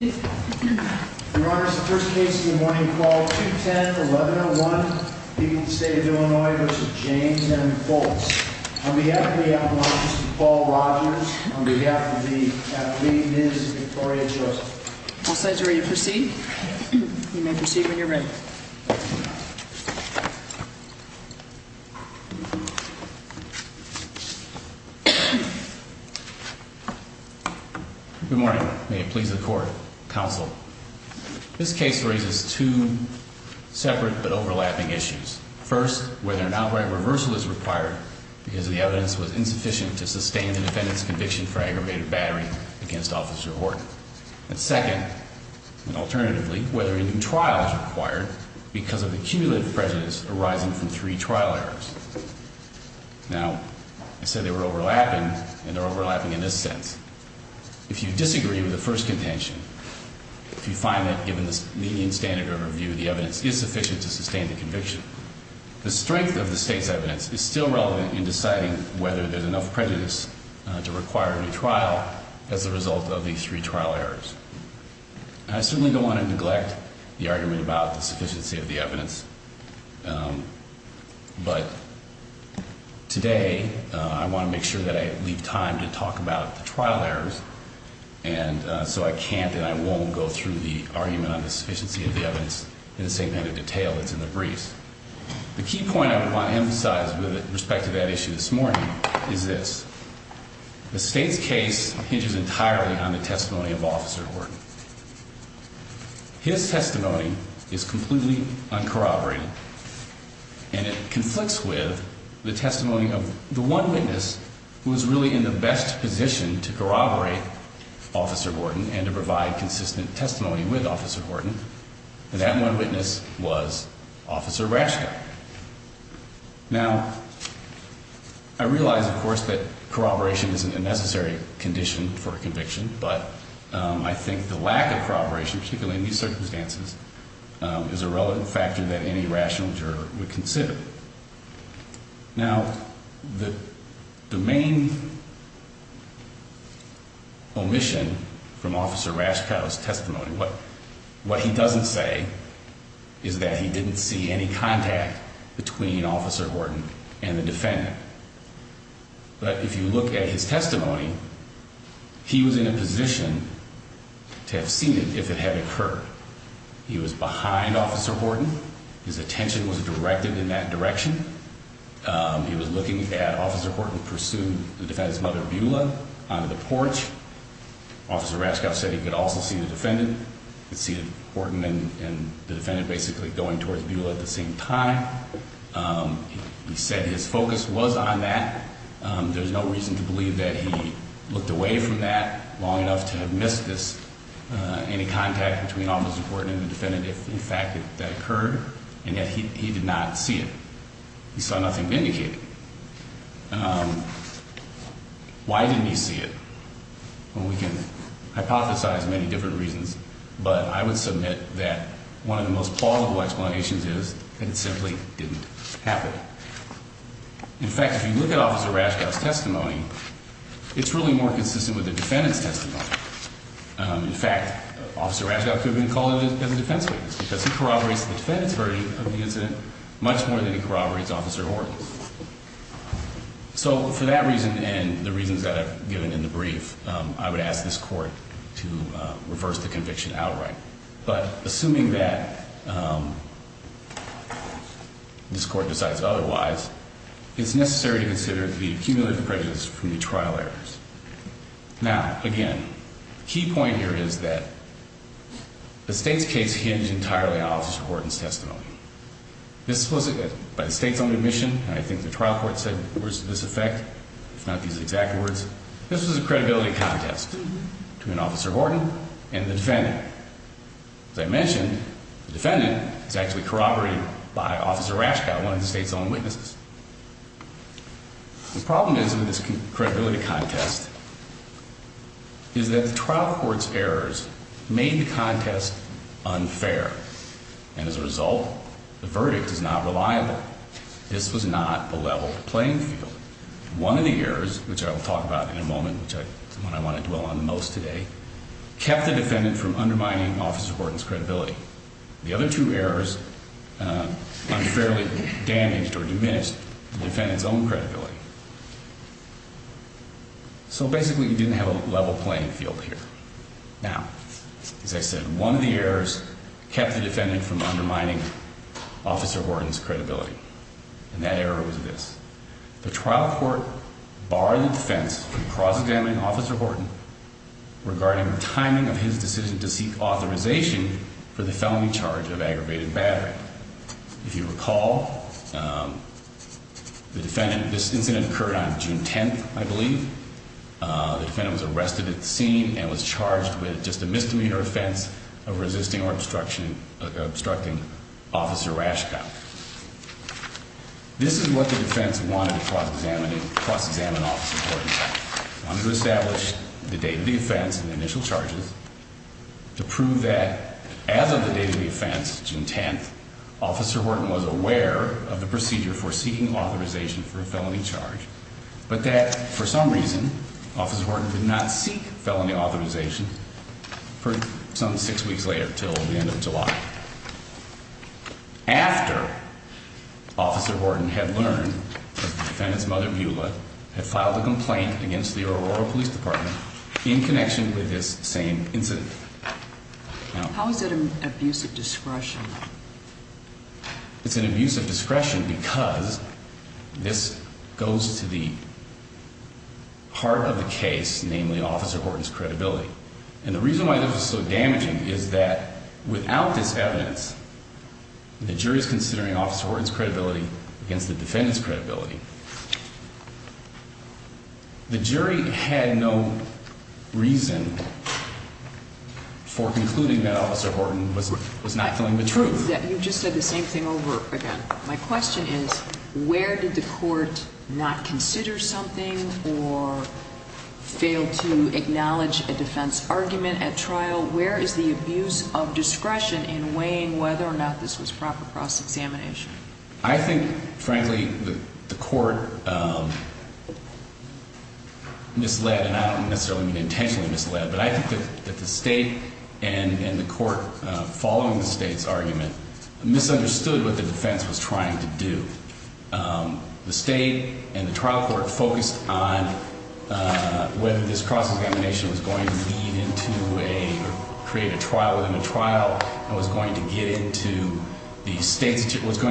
Your Honor, this is the first case of the morning. Call 210-1101. People's State of Illinois v. James M. Fultz. On behalf of the apologist, Paul Rogers. On behalf of the athlete, Ms. Victoria Joseph. All sides are ready to proceed. You may proceed when you're ready. Good morning. May it please the court, counsel. This case raises two separate but overlapping issues. First, whether an outright reversal is required because the evidence was insufficient to sustain the defendant's conviction for aggravated battery against Officer Horton. And second, and alternatively, whether a new trial is required because of accumulative prejudice arising from three trial errors. Now, I said they were overlapping, and they're overlapping in this sense. If you disagree with the first contention, if you find that, given the median standard of review, the evidence is sufficient to sustain the conviction, the strength of the state's evidence is still relevant in deciding whether there's enough prejudice to require a new trial as a result of these three trial errors. I certainly don't want to neglect the argument about the sufficiency of the evidence. But today I want to make sure that I leave time to talk about the trial errors. And so I can't and I won't go through the argument on the sufficiency of the evidence in the same kind of detail that's in the briefs. The key point I want to emphasize with respect to that issue this morning is this. The state's case hinges entirely on the testimony of Officer Horton. His testimony is completely uncorroborated, and it conflicts with the testimony of the one witness who was really in the best position to corroborate Officer Horton and to provide consistent testimony with Officer Horton. And that one witness was Officer Braschka. Now, I realize, of course, that corroboration isn't a necessary condition for a conviction, but I think the lack of corroboration, particularly in these circumstances, is a relevant factor that any rational juror would consider. Now, the main omission from Officer Braschka's testimony, what he doesn't say is that he didn't see any contact between Officer Horton and the defendant. But if you look at his testimony, he was in a position to have seen it if it had occurred. He was behind Officer Horton. His attention was directed in that direction. He was looking at Officer Horton, pursued the defendant's mother, Beulah, onto the porch. Officer Braschka said he could also see the defendant, could see Horton and the defendant basically going towards Beulah at the same time. He said his focus was on that. There's no reason to believe that he looked away from that long enough to have missed this, any contact between Officer Horton and the defendant if, in fact, that occurred, and yet he did not see it. He saw nothing vindicated. Why didn't he see it? Well, we can hypothesize many different reasons, but I would submit that one of the most plausible explanations is that it simply didn't happen. In fact, if you look at Officer Braschka's testimony, it's really more consistent with the defendant's testimony. In fact, Officer Braschka could have been called in as a defense witness because he corroborates the defendant's verdict of the incident much more than he corroborates Officer Horton's. So for that reason and the reasons that I've given in the brief, I would ask this Court to reverse the conviction outright. But assuming that this Court decides otherwise, it's necessary to consider the cumulative prejudice from the trial errors. Now, again, the key point here is that the State's case hinges entirely on Officer Horton's testimony. This was by the State's own admission, and I think the trial court said words to this effect, if not these exact words. This was a credibility contest between Officer Horton and the defendant. As I mentioned, the defendant is actually corroborated by Officer Braschka, one of the State's own witnesses. The problem is with this credibility contest is that the trial court's errors made the contest unfair, and as a result, the verdict is not reliable. This was not a level playing field. One of the errors, which I will talk about in a moment, which is the one I want to dwell on the most today, kept the defendant from undermining Officer Horton's credibility. The other two errors unfairly damaged or diminished the defendant's own credibility. So basically, you didn't have a level playing field here. Now, as I said, one of the errors kept the defendant from undermining Officer Horton's credibility, and that error was this. The trial court barred the defense from cross-examining Officer Horton regarding the timing of his decision to seek authorization for the felony charge of aggravated battery. If you recall, this incident occurred on June 10th, I believe. The defendant was arrested at the scene and was charged with just a misdemeanor offense of resisting or obstructing Officer Braschka. This is what the defense wanted to cross-examine Officer Horton. They wanted to establish the date of the offense and the initial charges to prove that, as of the date of the offense, June 10th, Officer Horton was aware of the procedure for seeking authorization for a felony charge, but that, for some reason, Officer Horton did not seek felony authorization for some six weeks later, until the end of July. After Officer Horton had learned that the defendant's mother, Beulah, had filed a complaint against the Aurora Police Department in connection with this same incident. How is it an abuse of discretion? It's an abuse of discretion because this goes to the heart of the case, namely Officer Horton's credibility. And the reason why this is so damaging is that, without this evidence, the jury is considering Officer Horton's credibility against the defendant's credibility. The jury had no reason for concluding that Officer Horton was not telling the truth. You just said the same thing over again. My question is, where did the court not consider something or fail to acknowledge a defense argument at trial? Where is the abuse of discretion in weighing whether or not this was proper cross-examination? I think, frankly, the court misled, and I don't necessarily mean intentionally misled, but I think that the state and the court following the state's argument misunderstood what the defense was trying to do. The state and the trial court focused on whether this cross-examination was going to create a trial within a trial and was going to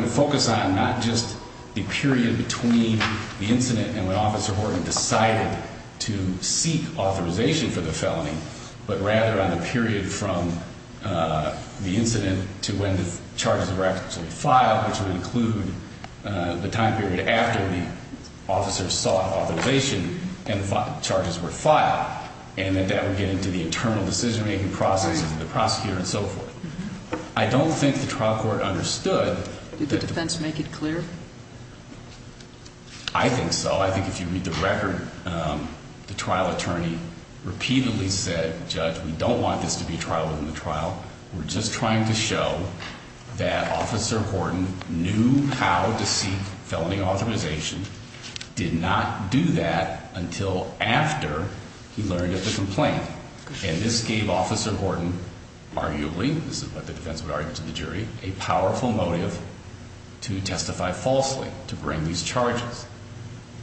focus on not just the period between the incident and when Officer Horton decided to seek authorization for the felony, but rather on the period from the incident to when the charges were actually filed, which would include the time period after the officer sought authorization and the charges were filed. And that that would get into the internal decision-making process of the prosecutor and so forth. I don't think the trial court understood that... Did the defense make it clear? I think so. I think if you read the record, the trial attorney repeatedly said, Judge, we don't want this to be a trial within the trial. We're just trying to show that Officer Horton knew how to seek felony authorization, did not do that until after he learned of the complaint. And this gave Officer Horton, arguably, this is what the defense would argue to the jury, a powerful motive to testify falsely, to bring these charges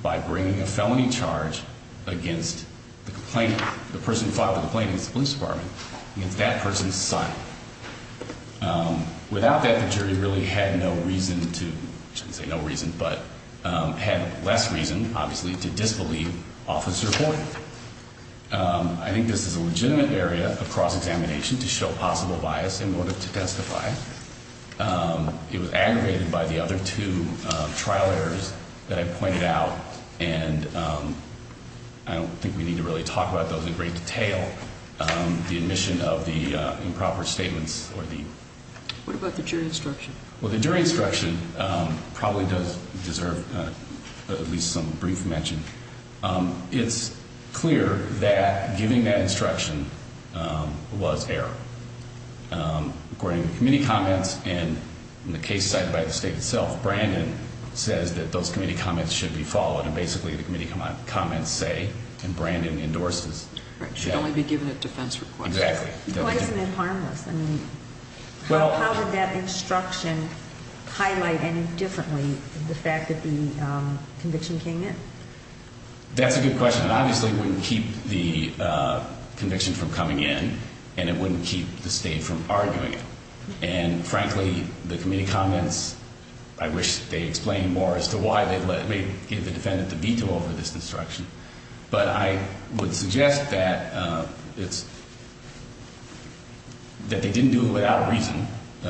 by bringing a felony charge against the complainant, the person who filed the complaint against the police department, against that person's son. Without that, the jury really had no reason to, I shouldn't say no reason, but had less reason, obviously, to disbelieve Officer Horton. I think this is a legitimate area of cross-examination to show possible bias in order to testify. It was aggravated by the other two trial errors that I pointed out, and I don't think we need to really talk about those in great detail. The admission of the improper statements or the... What about the jury instruction? Well, the jury instruction probably does deserve at least some brief mention. It's clear that giving that instruction was error. According to committee comments in the case cited by the state itself, Brandon says that those committee comments should be followed. And basically, the committee comments say, and Brandon endorses... Should only be given at defense request. Exactly. Why isn't it harmless? How did that instruction highlight any differently the fact that the conviction came in? That's a good question. Obviously, it wouldn't keep the conviction from coming in, and it wouldn't keep the state from arguing it. And frankly, the committee comments, I wish they explained more as to why they gave the defendant the veto over this instruction. But I would suggest that they didn't do it without a reason.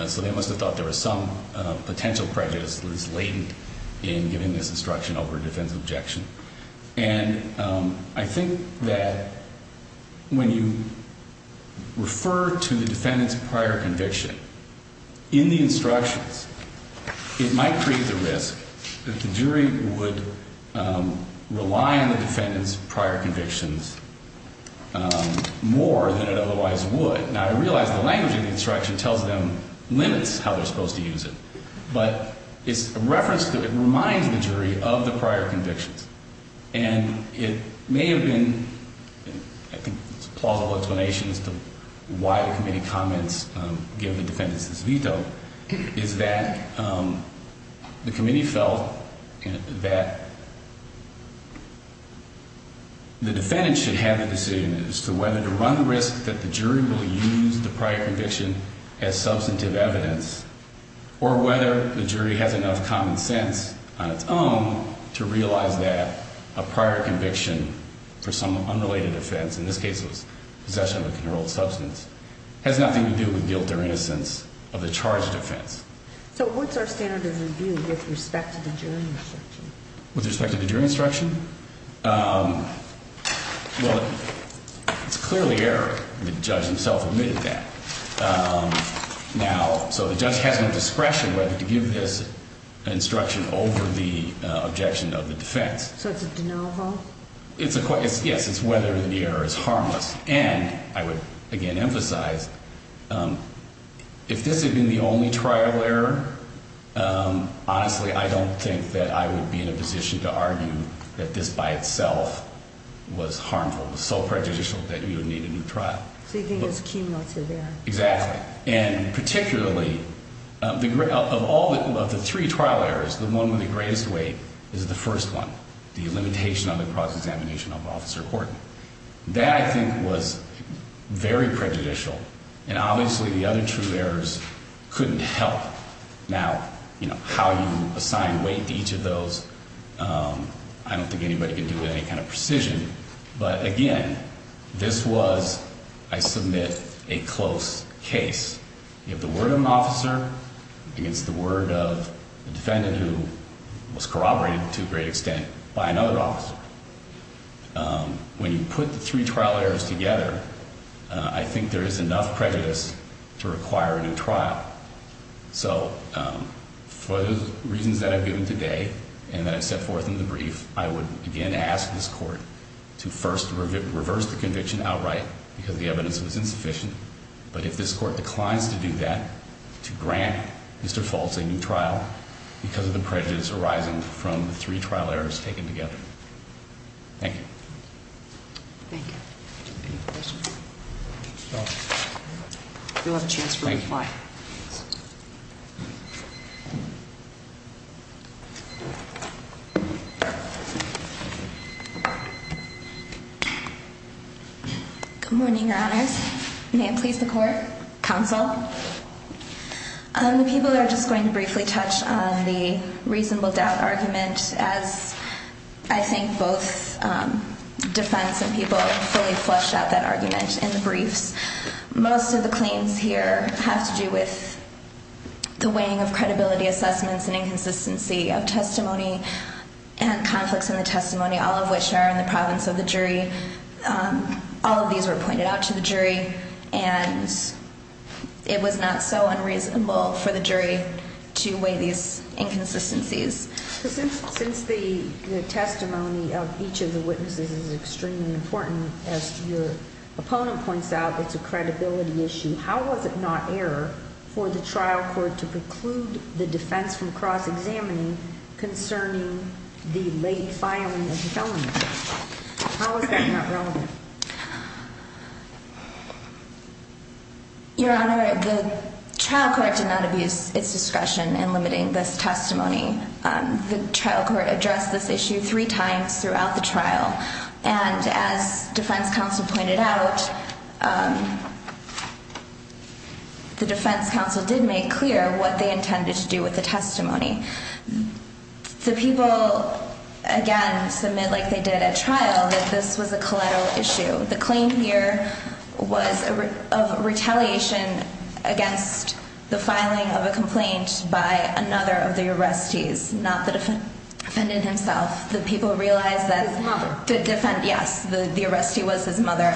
So they must have thought there was some potential prejudice that was latent in giving this instruction over a defense objection. And I think that when you refer to the defendant's prior conviction in the instructions, it might create the risk that the jury would rely on the defendant's prior convictions more than it otherwise would. Now, I realize the language in the instruction tells them, limits how they're supposed to use it. But it's a reference that reminds the jury of the prior convictions. And it may have been, I think, a plausible explanation as to why the committee comments give the defendants this veto, is that the committee felt that the defendant should have the decision as to whether to run the risk that the jury will use the prior conviction as substantive evidence or whether the jury has enough common sense on its own to realize that a prior conviction for some unrelated offense, in this case it was possession of a controlled substance, has nothing to do with guilt or innocence of the charged offense. So what's our standard of review with respect to the jury instruction? With respect to the jury instruction? Well, it's clearly error. The judge himself admitted that. Now, so the judge has no discretion whether to give this instruction over the objection of the defense. So it's a de novo? Yes, it's whether the error is harmless. And I would, again, emphasize, if this had been the only trial error, honestly, I don't think that I would be in a position to argue that this by itself was harmful, was so prejudicial that you would need a new trial. So you think it's cumulative error? Exactly. And particularly, of all the three trial errors, the one with the greatest weight is the first one, the limitation on the cross-examination of Officer Horton. That, I think, was very prejudicial. And obviously the other two errors couldn't help. Now, you know, how you assign weight to each of those, I don't think anybody can do with any kind of precision. But, again, this was, I submit, a close case. You have the word of an officer against the word of a defendant who was corroborated to a great extent by another officer. When you put the three trial errors together, I think there is enough prejudice to require a new trial. So for the reasons that I've given today and that I've set forth in the brief, I would, again, ask this court to first reverse the conviction outright because the evidence was insufficient. But if this court declines to do that, to grant Mr. Foltz a new trial because of the prejudice arising from the three trial errors taken together. Thank you. Thank you. Any questions? No. You'll have a chance for a reply. Thank you. Good morning, Your Honors. May it please the court? Counsel. The people are just going to briefly touch on the reasonable doubt argument as I think both defense and people fully flushed out that argument in the briefs. Most of the claims here have to do with the weighing of credibility assessments and inconsistency of testimony and conflicts in the testimony, all of which are in the province of the jury. All of these were pointed out to the jury, and it was not so unreasonable for the jury to weigh these inconsistencies. Since the testimony of each of the witnesses is extremely important, as your opponent points out, it's a credibility issue. How was it not error for the trial court to preclude the defense from cross-examining concerning the late filing of the felony? How was that not relevant? Your Honor, the trial court did not abuse its discretion in limiting this testimony. The trial court addressed this issue three times throughout the trial, and as defense counsel pointed out, the defense counsel did make clear what they intended to do with the testimony. The people, again, submit like they did at trial that this was a collateral issue. The claim here was of retaliation against the filing of a complaint by another of the arrestees, not the defendant himself. The people realized that the arrestee was his mother.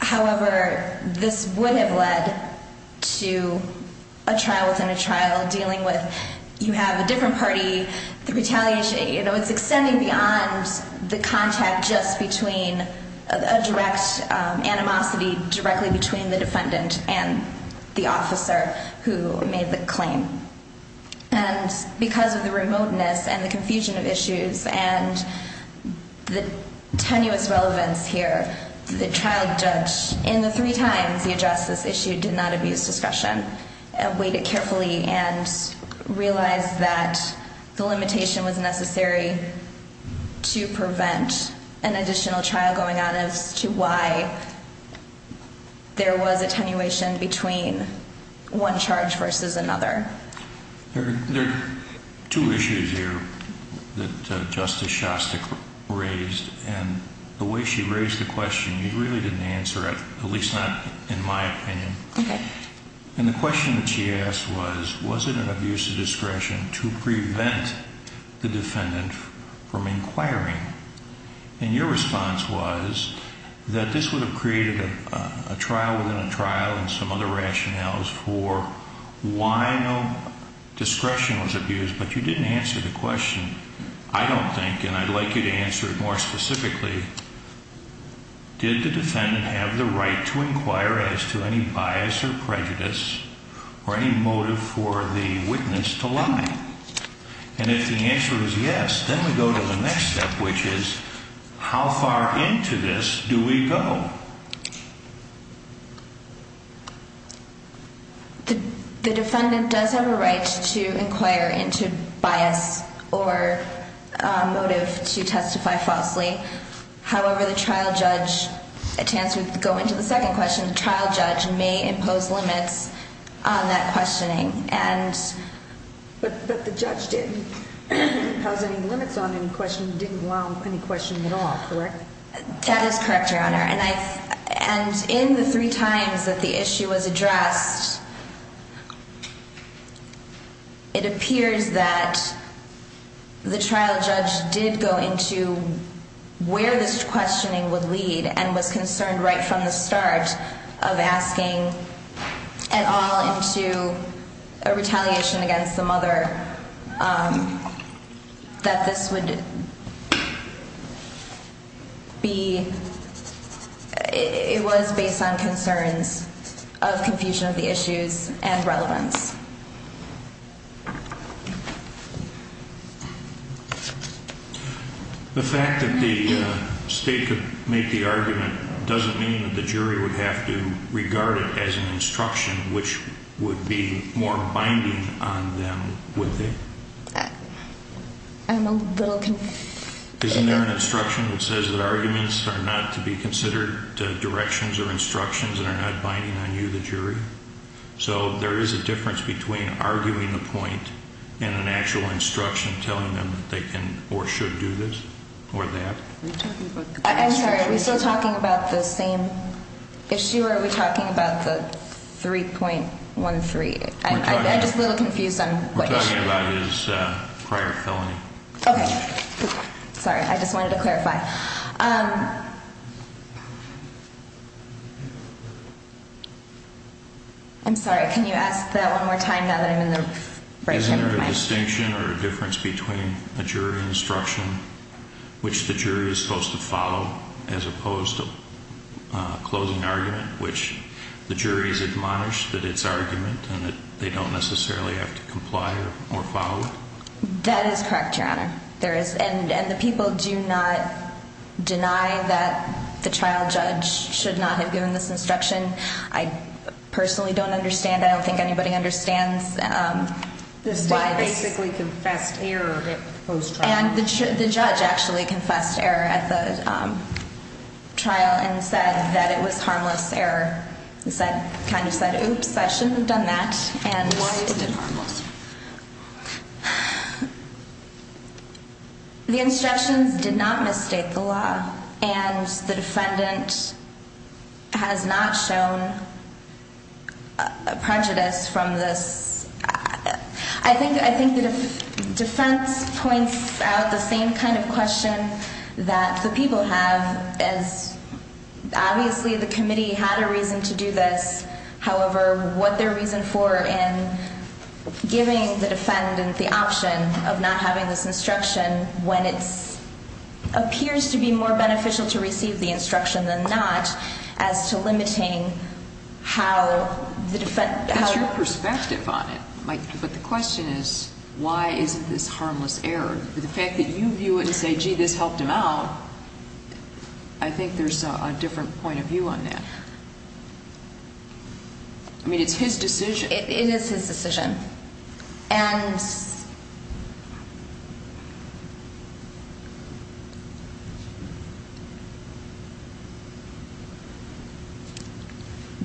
However, this would have led to a trial within a trial dealing with you have a different party, the retaliation. You know, it's extending beyond the contact just between a direct animosity directly between the defendant and the officer who made the claim. And because of the remoteness and the confusion of issues and the tenuous relevance here, the trial judge, in the three times he addressed this issue, did not abuse discretion. Waited carefully and realized that the limitation was necessary to prevent an additional trial going on as to why there was attenuation between one charge versus another. There are two issues here that Justice Shasta raised, and the way she raised the question, you really didn't answer it, at least not in my opinion. And the question that she asked was, was it an abuse of discretion to prevent the defendant from inquiring? And your response was that this would have created a trial within a trial and some other rationales for why no discretion was abused, but you didn't answer the question. I don't think and I'd like you to answer it more specifically. Did the defendant have the right to inquire as to any bias or prejudice or any motive for the witness to lie? And if the answer is yes, then we go to the next step, which is how far into this do we go? The defendant does have a right to inquire into bias or motive to testify falsely. However, the trial judge, to answer, to go into the second question, the trial judge may impose limits on that questioning. But the judge didn't impose any limits on any questioning, didn't allow any questioning at all, correct? That is correct, Your Honor. And in the three times that the issue was addressed, it appears that the trial judge did go into where this questioning would lead and was concerned right from the start of asking at all into a retaliation against the mother that this would... be... it was based on concerns of confusion of the issues and relevance. The fact that the state could make the argument doesn't mean that the jury would have to regard it as an instruction, which would be more binding on them, would they? I'm a little... Isn't there an instruction that says that arguments are not to be considered directions or instructions that are not binding on you, the jury? So there is a difference between arguing the point and an actual instruction telling them that they can or should do this or that? I'm sorry, are we still talking about the same issue or are we talking about the 3.13? I'm just a little confused on what issue. We're talking about his prior felony. Okay. Sorry, I just wanted to clarify. I'm sorry, can you ask that one more time now that I'm in the break? Isn't there a distinction or a difference between a jury instruction, which the jury is supposed to follow, as opposed to a closing argument, which the jury has admonished that it's argument and that they don't necessarily have to comply or follow it? That is correct, Your Honor. And the people do not deny that the trial judge should not have given this instruction. I personally don't understand. I don't think anybody understands why this... The state basically confessed error at the proposed trial. And the judge actually confessed error at the trial and said that it was harmless error. He kind of said, oops, I shouldn't have done that. Why is it harmless? The instructions did not misstate the law. And the defendant has not shown prejudice from this. I think the defense points out the same kind of question that the people have, as obviously the committee had a reason to do this. However, what their reason for in giving the defendant the option of not having this instruction, when it appears to be more beneficial to receive the instruction than not, as to limiting how the defendant... That's your perspective on it. But the question is, why isn't this harmless error? The fact that you view it and say, gee, this helped him out, I think there's a different point of view on that. I mean, it's his decision. It is his decision. And...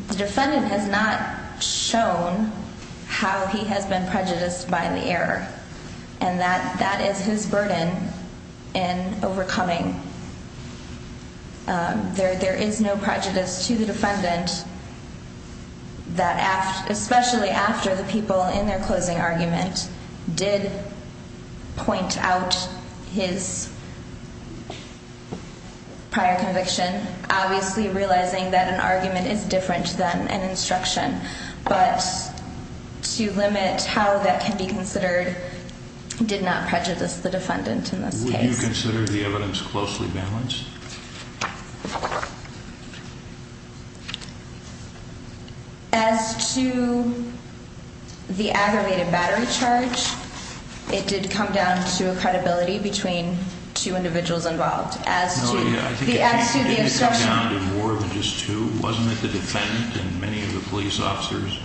The defendant has not shown how he has been prejudiced by the error. And that is his burden in overcoming. There is no prejudice to the defendant that, especially after the people in their closing argument did point out his prior conviction, obviously realizing that an argument is different than an instruction. But to limit how that can be considered did not prejudice the defendant in this case. Do you consider the evidence closely balanced? As to the aggravated battery charge, it did come down to a credibility between two individuals involved. It did come down to more than just two. Wasn't it the defendant and many of the police officers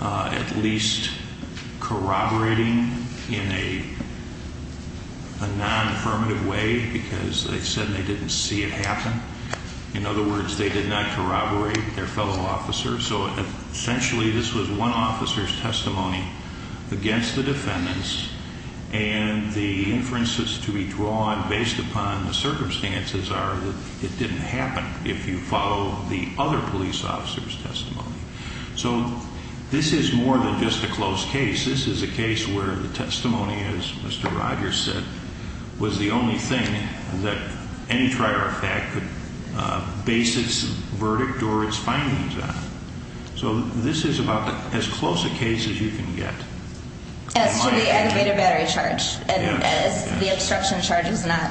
at least corroborating in a non-affirmative way because they said they didn't see it happen? In other words, they did not corroborate their fellow officers. So essentially this was one officer's testimony against the defendants and the inferences to be drawn based upon the circumstances are that it didn't happen if you follow the other police officer's testimony. So this is more than just a closed case. This is a case where the testimony, as Mr. Rogers said, was the only thing that any trier of fact could base its verdict or its findings on. So this is about as close a case as you can get. As to the aggravated battery charge and as the obstruction charge is not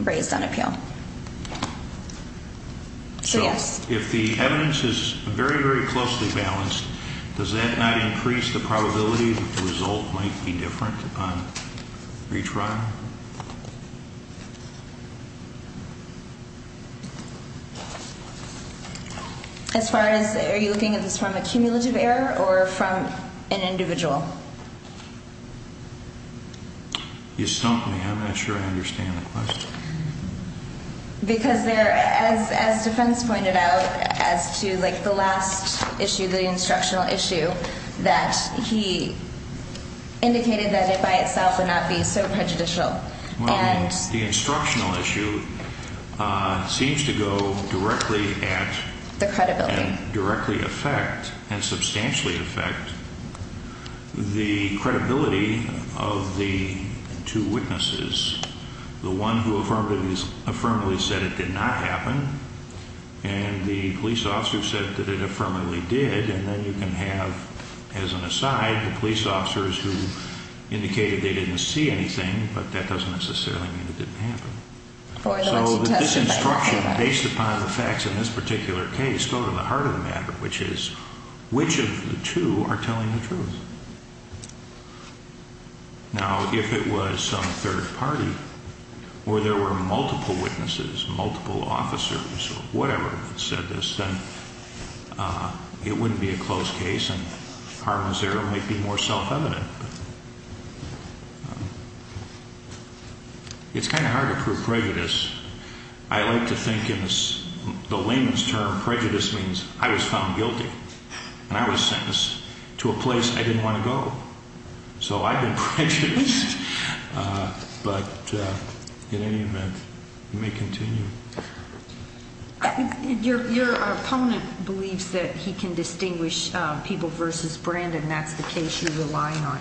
raised on appeal. So if the evidence is very, very closely balanced, does that not increase the probability that the result might be different on retrial? As far as are you looking at this from a cumulative error or from an individual? You stumped me. I'm not sure I understand the question. Because as defense pointed out as to the last issue, the instructional issue, that he indicated that it by itself would not be so prejudicial. The instructional issue seems to go directly at the credibility and directly affect and substantially affect the credibility of the two witnesses. The one who affirmatively said it did not happen and the police officer said that it affirmatively did. And then you can have, as an aside, the police officers who indicated they didn't see anything, but that doesn't necessarily mean it didn't happen. So this instruction, based upon the facts in this particular case, go to the heart of the matter, which is which of the two are telling the truth? Now, if it was some third party or there were multiple witnesses, multiple officers or whatever said this, then it wouldn't be a closed case and harm was there. It might be more self-evident. It's kind of hard to prove prejudice. I like to think in the layman's term, prejudice means I was found guilty and I was sentenced to a place I didn't want to go. So I've been prejudiced. But in any event, you may continue. Your opponent believes that he can distinguish people versus Brandon. That's the case you're relying on.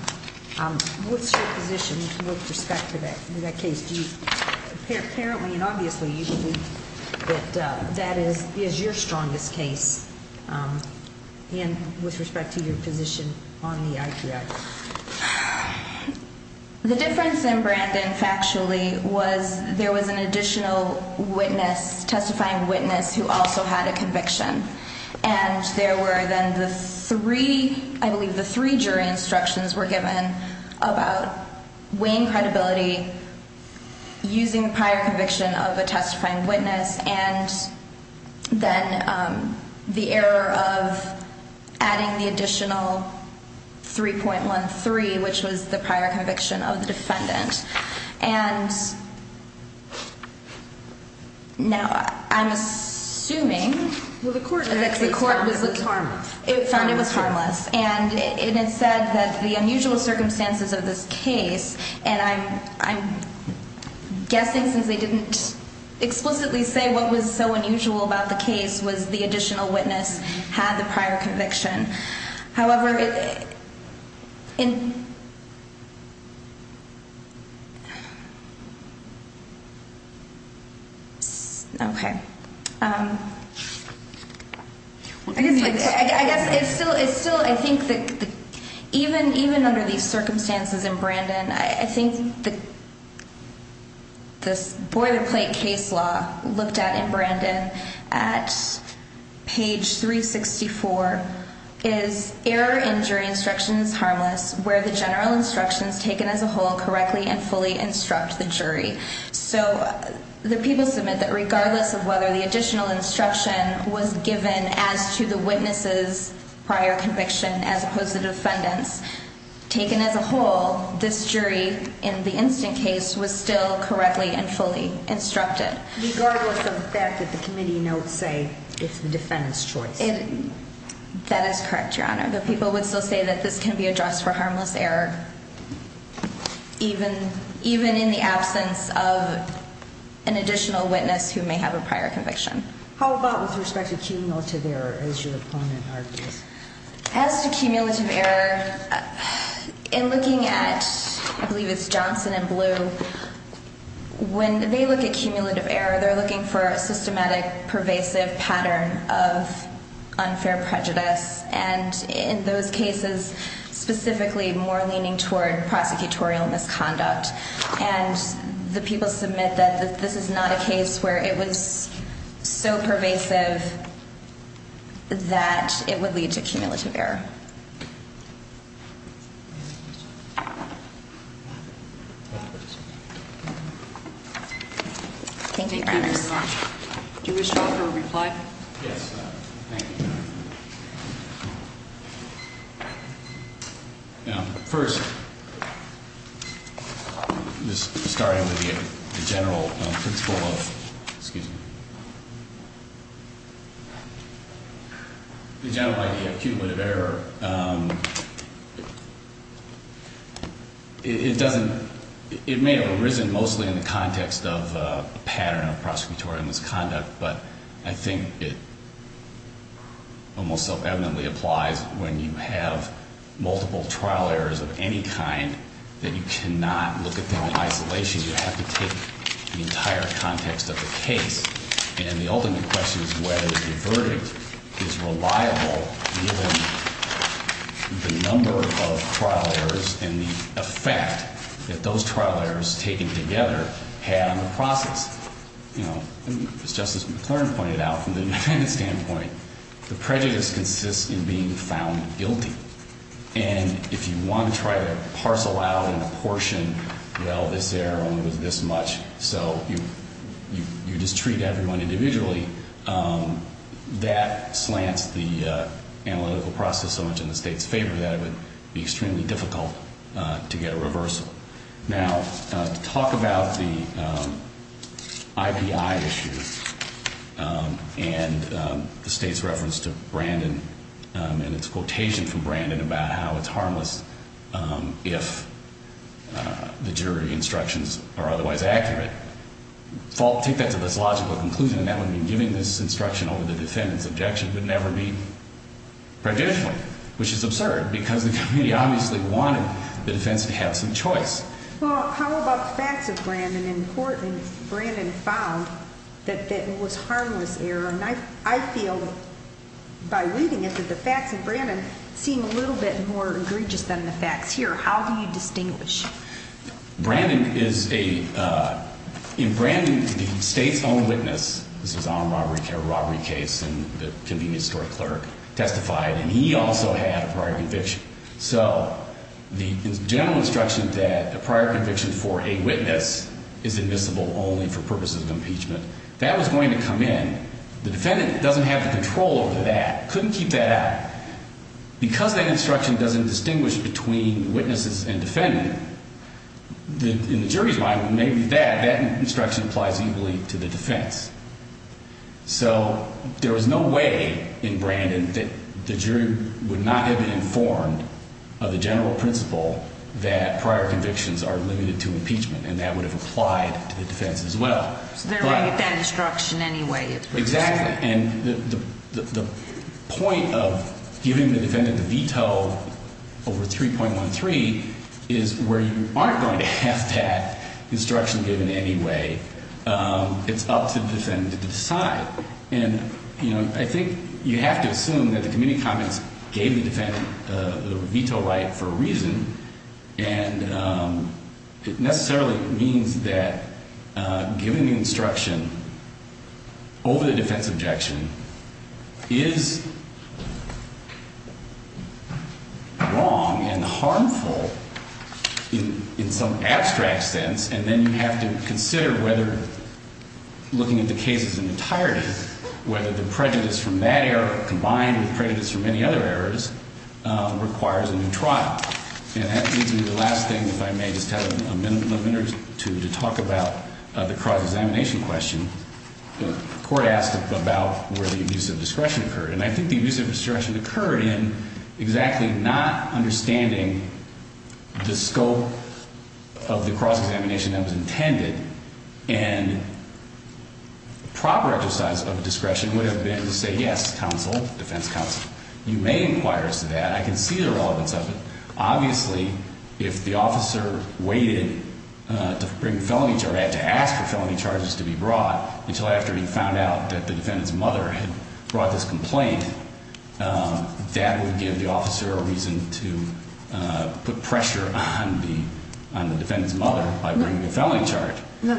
What's your position with respect to that case? Apparently and obviously you believe that that is your strongest case. And with respect to your position on the idea. The difference in Brandon factually was there was an additional witness testifying witness who also had a conviction. And there were then the three, I believe the three jury instructions were given about weighing credibility. Using the prior conviction of a testifying witness and then the error of adding the additional 3.13, which was the prior conviction of the defendant. And now I'm assuming the court found it was harmless. And it said that the unusual circumstances of this case. And I'm guessing since they didn't explicitly say what was so unusual about the case was the additional witness had the prior conviction. However. In. OK. I guess I guess it's still it's still I think that even even under these circumstances in Brandon, I think that. This boilerplate case law looked at in Brandon at page 364 is error in jury instructions harmless where the general instructions taken as a whole correctly and fully instruct the jury. So the people submit that regardless of whether the additional instruction was given as to the witnesses prior conviction as opposed to defendants taken as a whole. This jury in the instant case was still correctly and fully instructed. Regardless of the fact that the committee notes say it's the defendant's choice. That is correct. Your Honor, the people would still say that this can be addressed for harmless error. Even even in the absence of. An additional witness who may have a prior conviction. How about with respect to cumulative error as your opponent argues. As to cumulative error in looking at, I believe it's Johnson and blue. When they look at cumulative error, they're looking for a systematic pervasive pattern of unfair prejudice and in those cases specifically more leaning toward prosecutorial misconduct. And the people submit that this is not a case where it was so pervasive. That it would lead to cumulative error. Thank you. Do you wish to reply? Yes, thank you. Now, first. Just starting with the general principle of. Excuse me. The general idea of cumulative error. It doesn't. It may have arisen mostly in the context of a pattern of prosecutorial misconduct, but I think it. Almost so evidently applies when you have multiple trial errors of any kind that you cannot look at them in isolation. You have to take the entire context of the case. And the ultimate question is whether the verdict is reliable. The number of trial errors and the effect that those trial errors taken together had on the process. You know, it's just as McLaren pointed out from the standpoint. The prejudice consists in being found guilty. And if you want to try to parcel out in a portion, well, this error was this much. So you just treat everyone individually. That slants the analytical process so much in the state's favor that it would be extremely difficult to get a reversal. Now, to talk about the IPI issue and the state's reference to Brandon and its quotation from Brandon about how it's harmless if the jury instructions are otherwise accurate. Take that to this logical conclusion, and that would mean giving this instruction over the defendant's objection would never be prejudicial, which is absurd. Because the committee obviously wanted the defense to have some choice. Well, how about the facts of Brandon in court? And Brandon found that it was a harmless error. And I feel by reading it that the facts of Brandon seem a little bit more egregious than the facts here. How do you distinguish? Brandon is a, in Brandon, the state's own witness, this was on a robbery case, and the convenience store clerk testified, and he also had a prior conviction. So the general instruction that a prior conviction for a witness is admissible only for purposes of impeachment, that was going to come in. The defendant doesn't have the control over that, couldn't keep that out. Because that instruction doesn't distinguish between witnesses and defendant, in the jury's mind, maybe that, that instruction applies equally to the defense. So there was no way in Brandon that the jury would not have been informed of the general principle that prior convictions are limited to impeachment, and that would have applied to the defense as well. So they're looking at that instruction anyway. Exactly, and the point of giving the defendant the veto over 3.13 is where you aren't going to have that instruction given anyway. It's up to the defendant to decide. And, you know, I think you have to assume that the committee comments gave the defendant the veto right for a reason. And it necessarily means that giving the instruction over the defense objection is wrong and harmful in some abstract sense. And then you have to consider whether, looking at the cases in entirety, whether the prejudice from that error combined with prejudice from many other errors requires a new trial. And that leads me to the last thing, if I may just have a minute or two to talk about the cross-examination question. The court asked about where the abuse of discretion occurred, and I think the abuse of discretion occurred in exactly not understanding the scope of the cross-examination that was intended. And proper exercise of discretion would have been to say, yes, counsel, defense counsel, you may inquire as to that. I can see the relevance of it. Obviously, if the officer waited to bring a felony charge, had to ask for felony charges to be brought, until after he found out that the defendant's mother had brought this complaint, that would give the officer a reason to put pressure on the defendant's mother by bringing a felony charge. The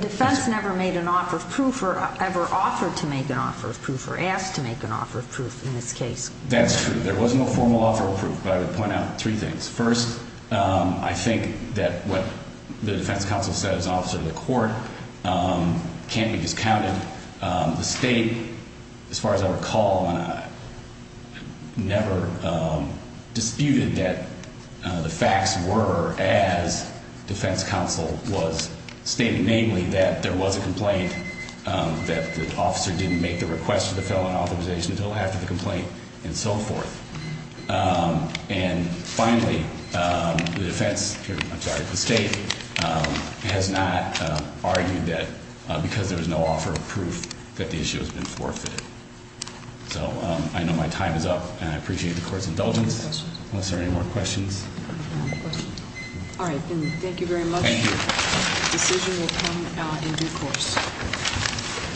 defense never made an offer of proof or ever offered to make an offer of proof or asked to make an offer of proof in this case. That's true. There was no formal offer of proof, but I would point out three things. First, I think that what the defense counsel said as an officer to the court can't be discounted. The state, as far as I recall, never disputed that the facts were as defense counsel was stating, namely, that there was a complaint, that the officer didn't make the request for the felony authorization until after the complaint, and so forth. And finally, the defense, I'm sorry, the state has not argued that because there was no offer of proof that the issue has been forfeited. So, I know my time is up, and I appreciate the court's indulgence. Unless there are any more questions. All right. Thank you very much. Thank you. The decision will come in due course.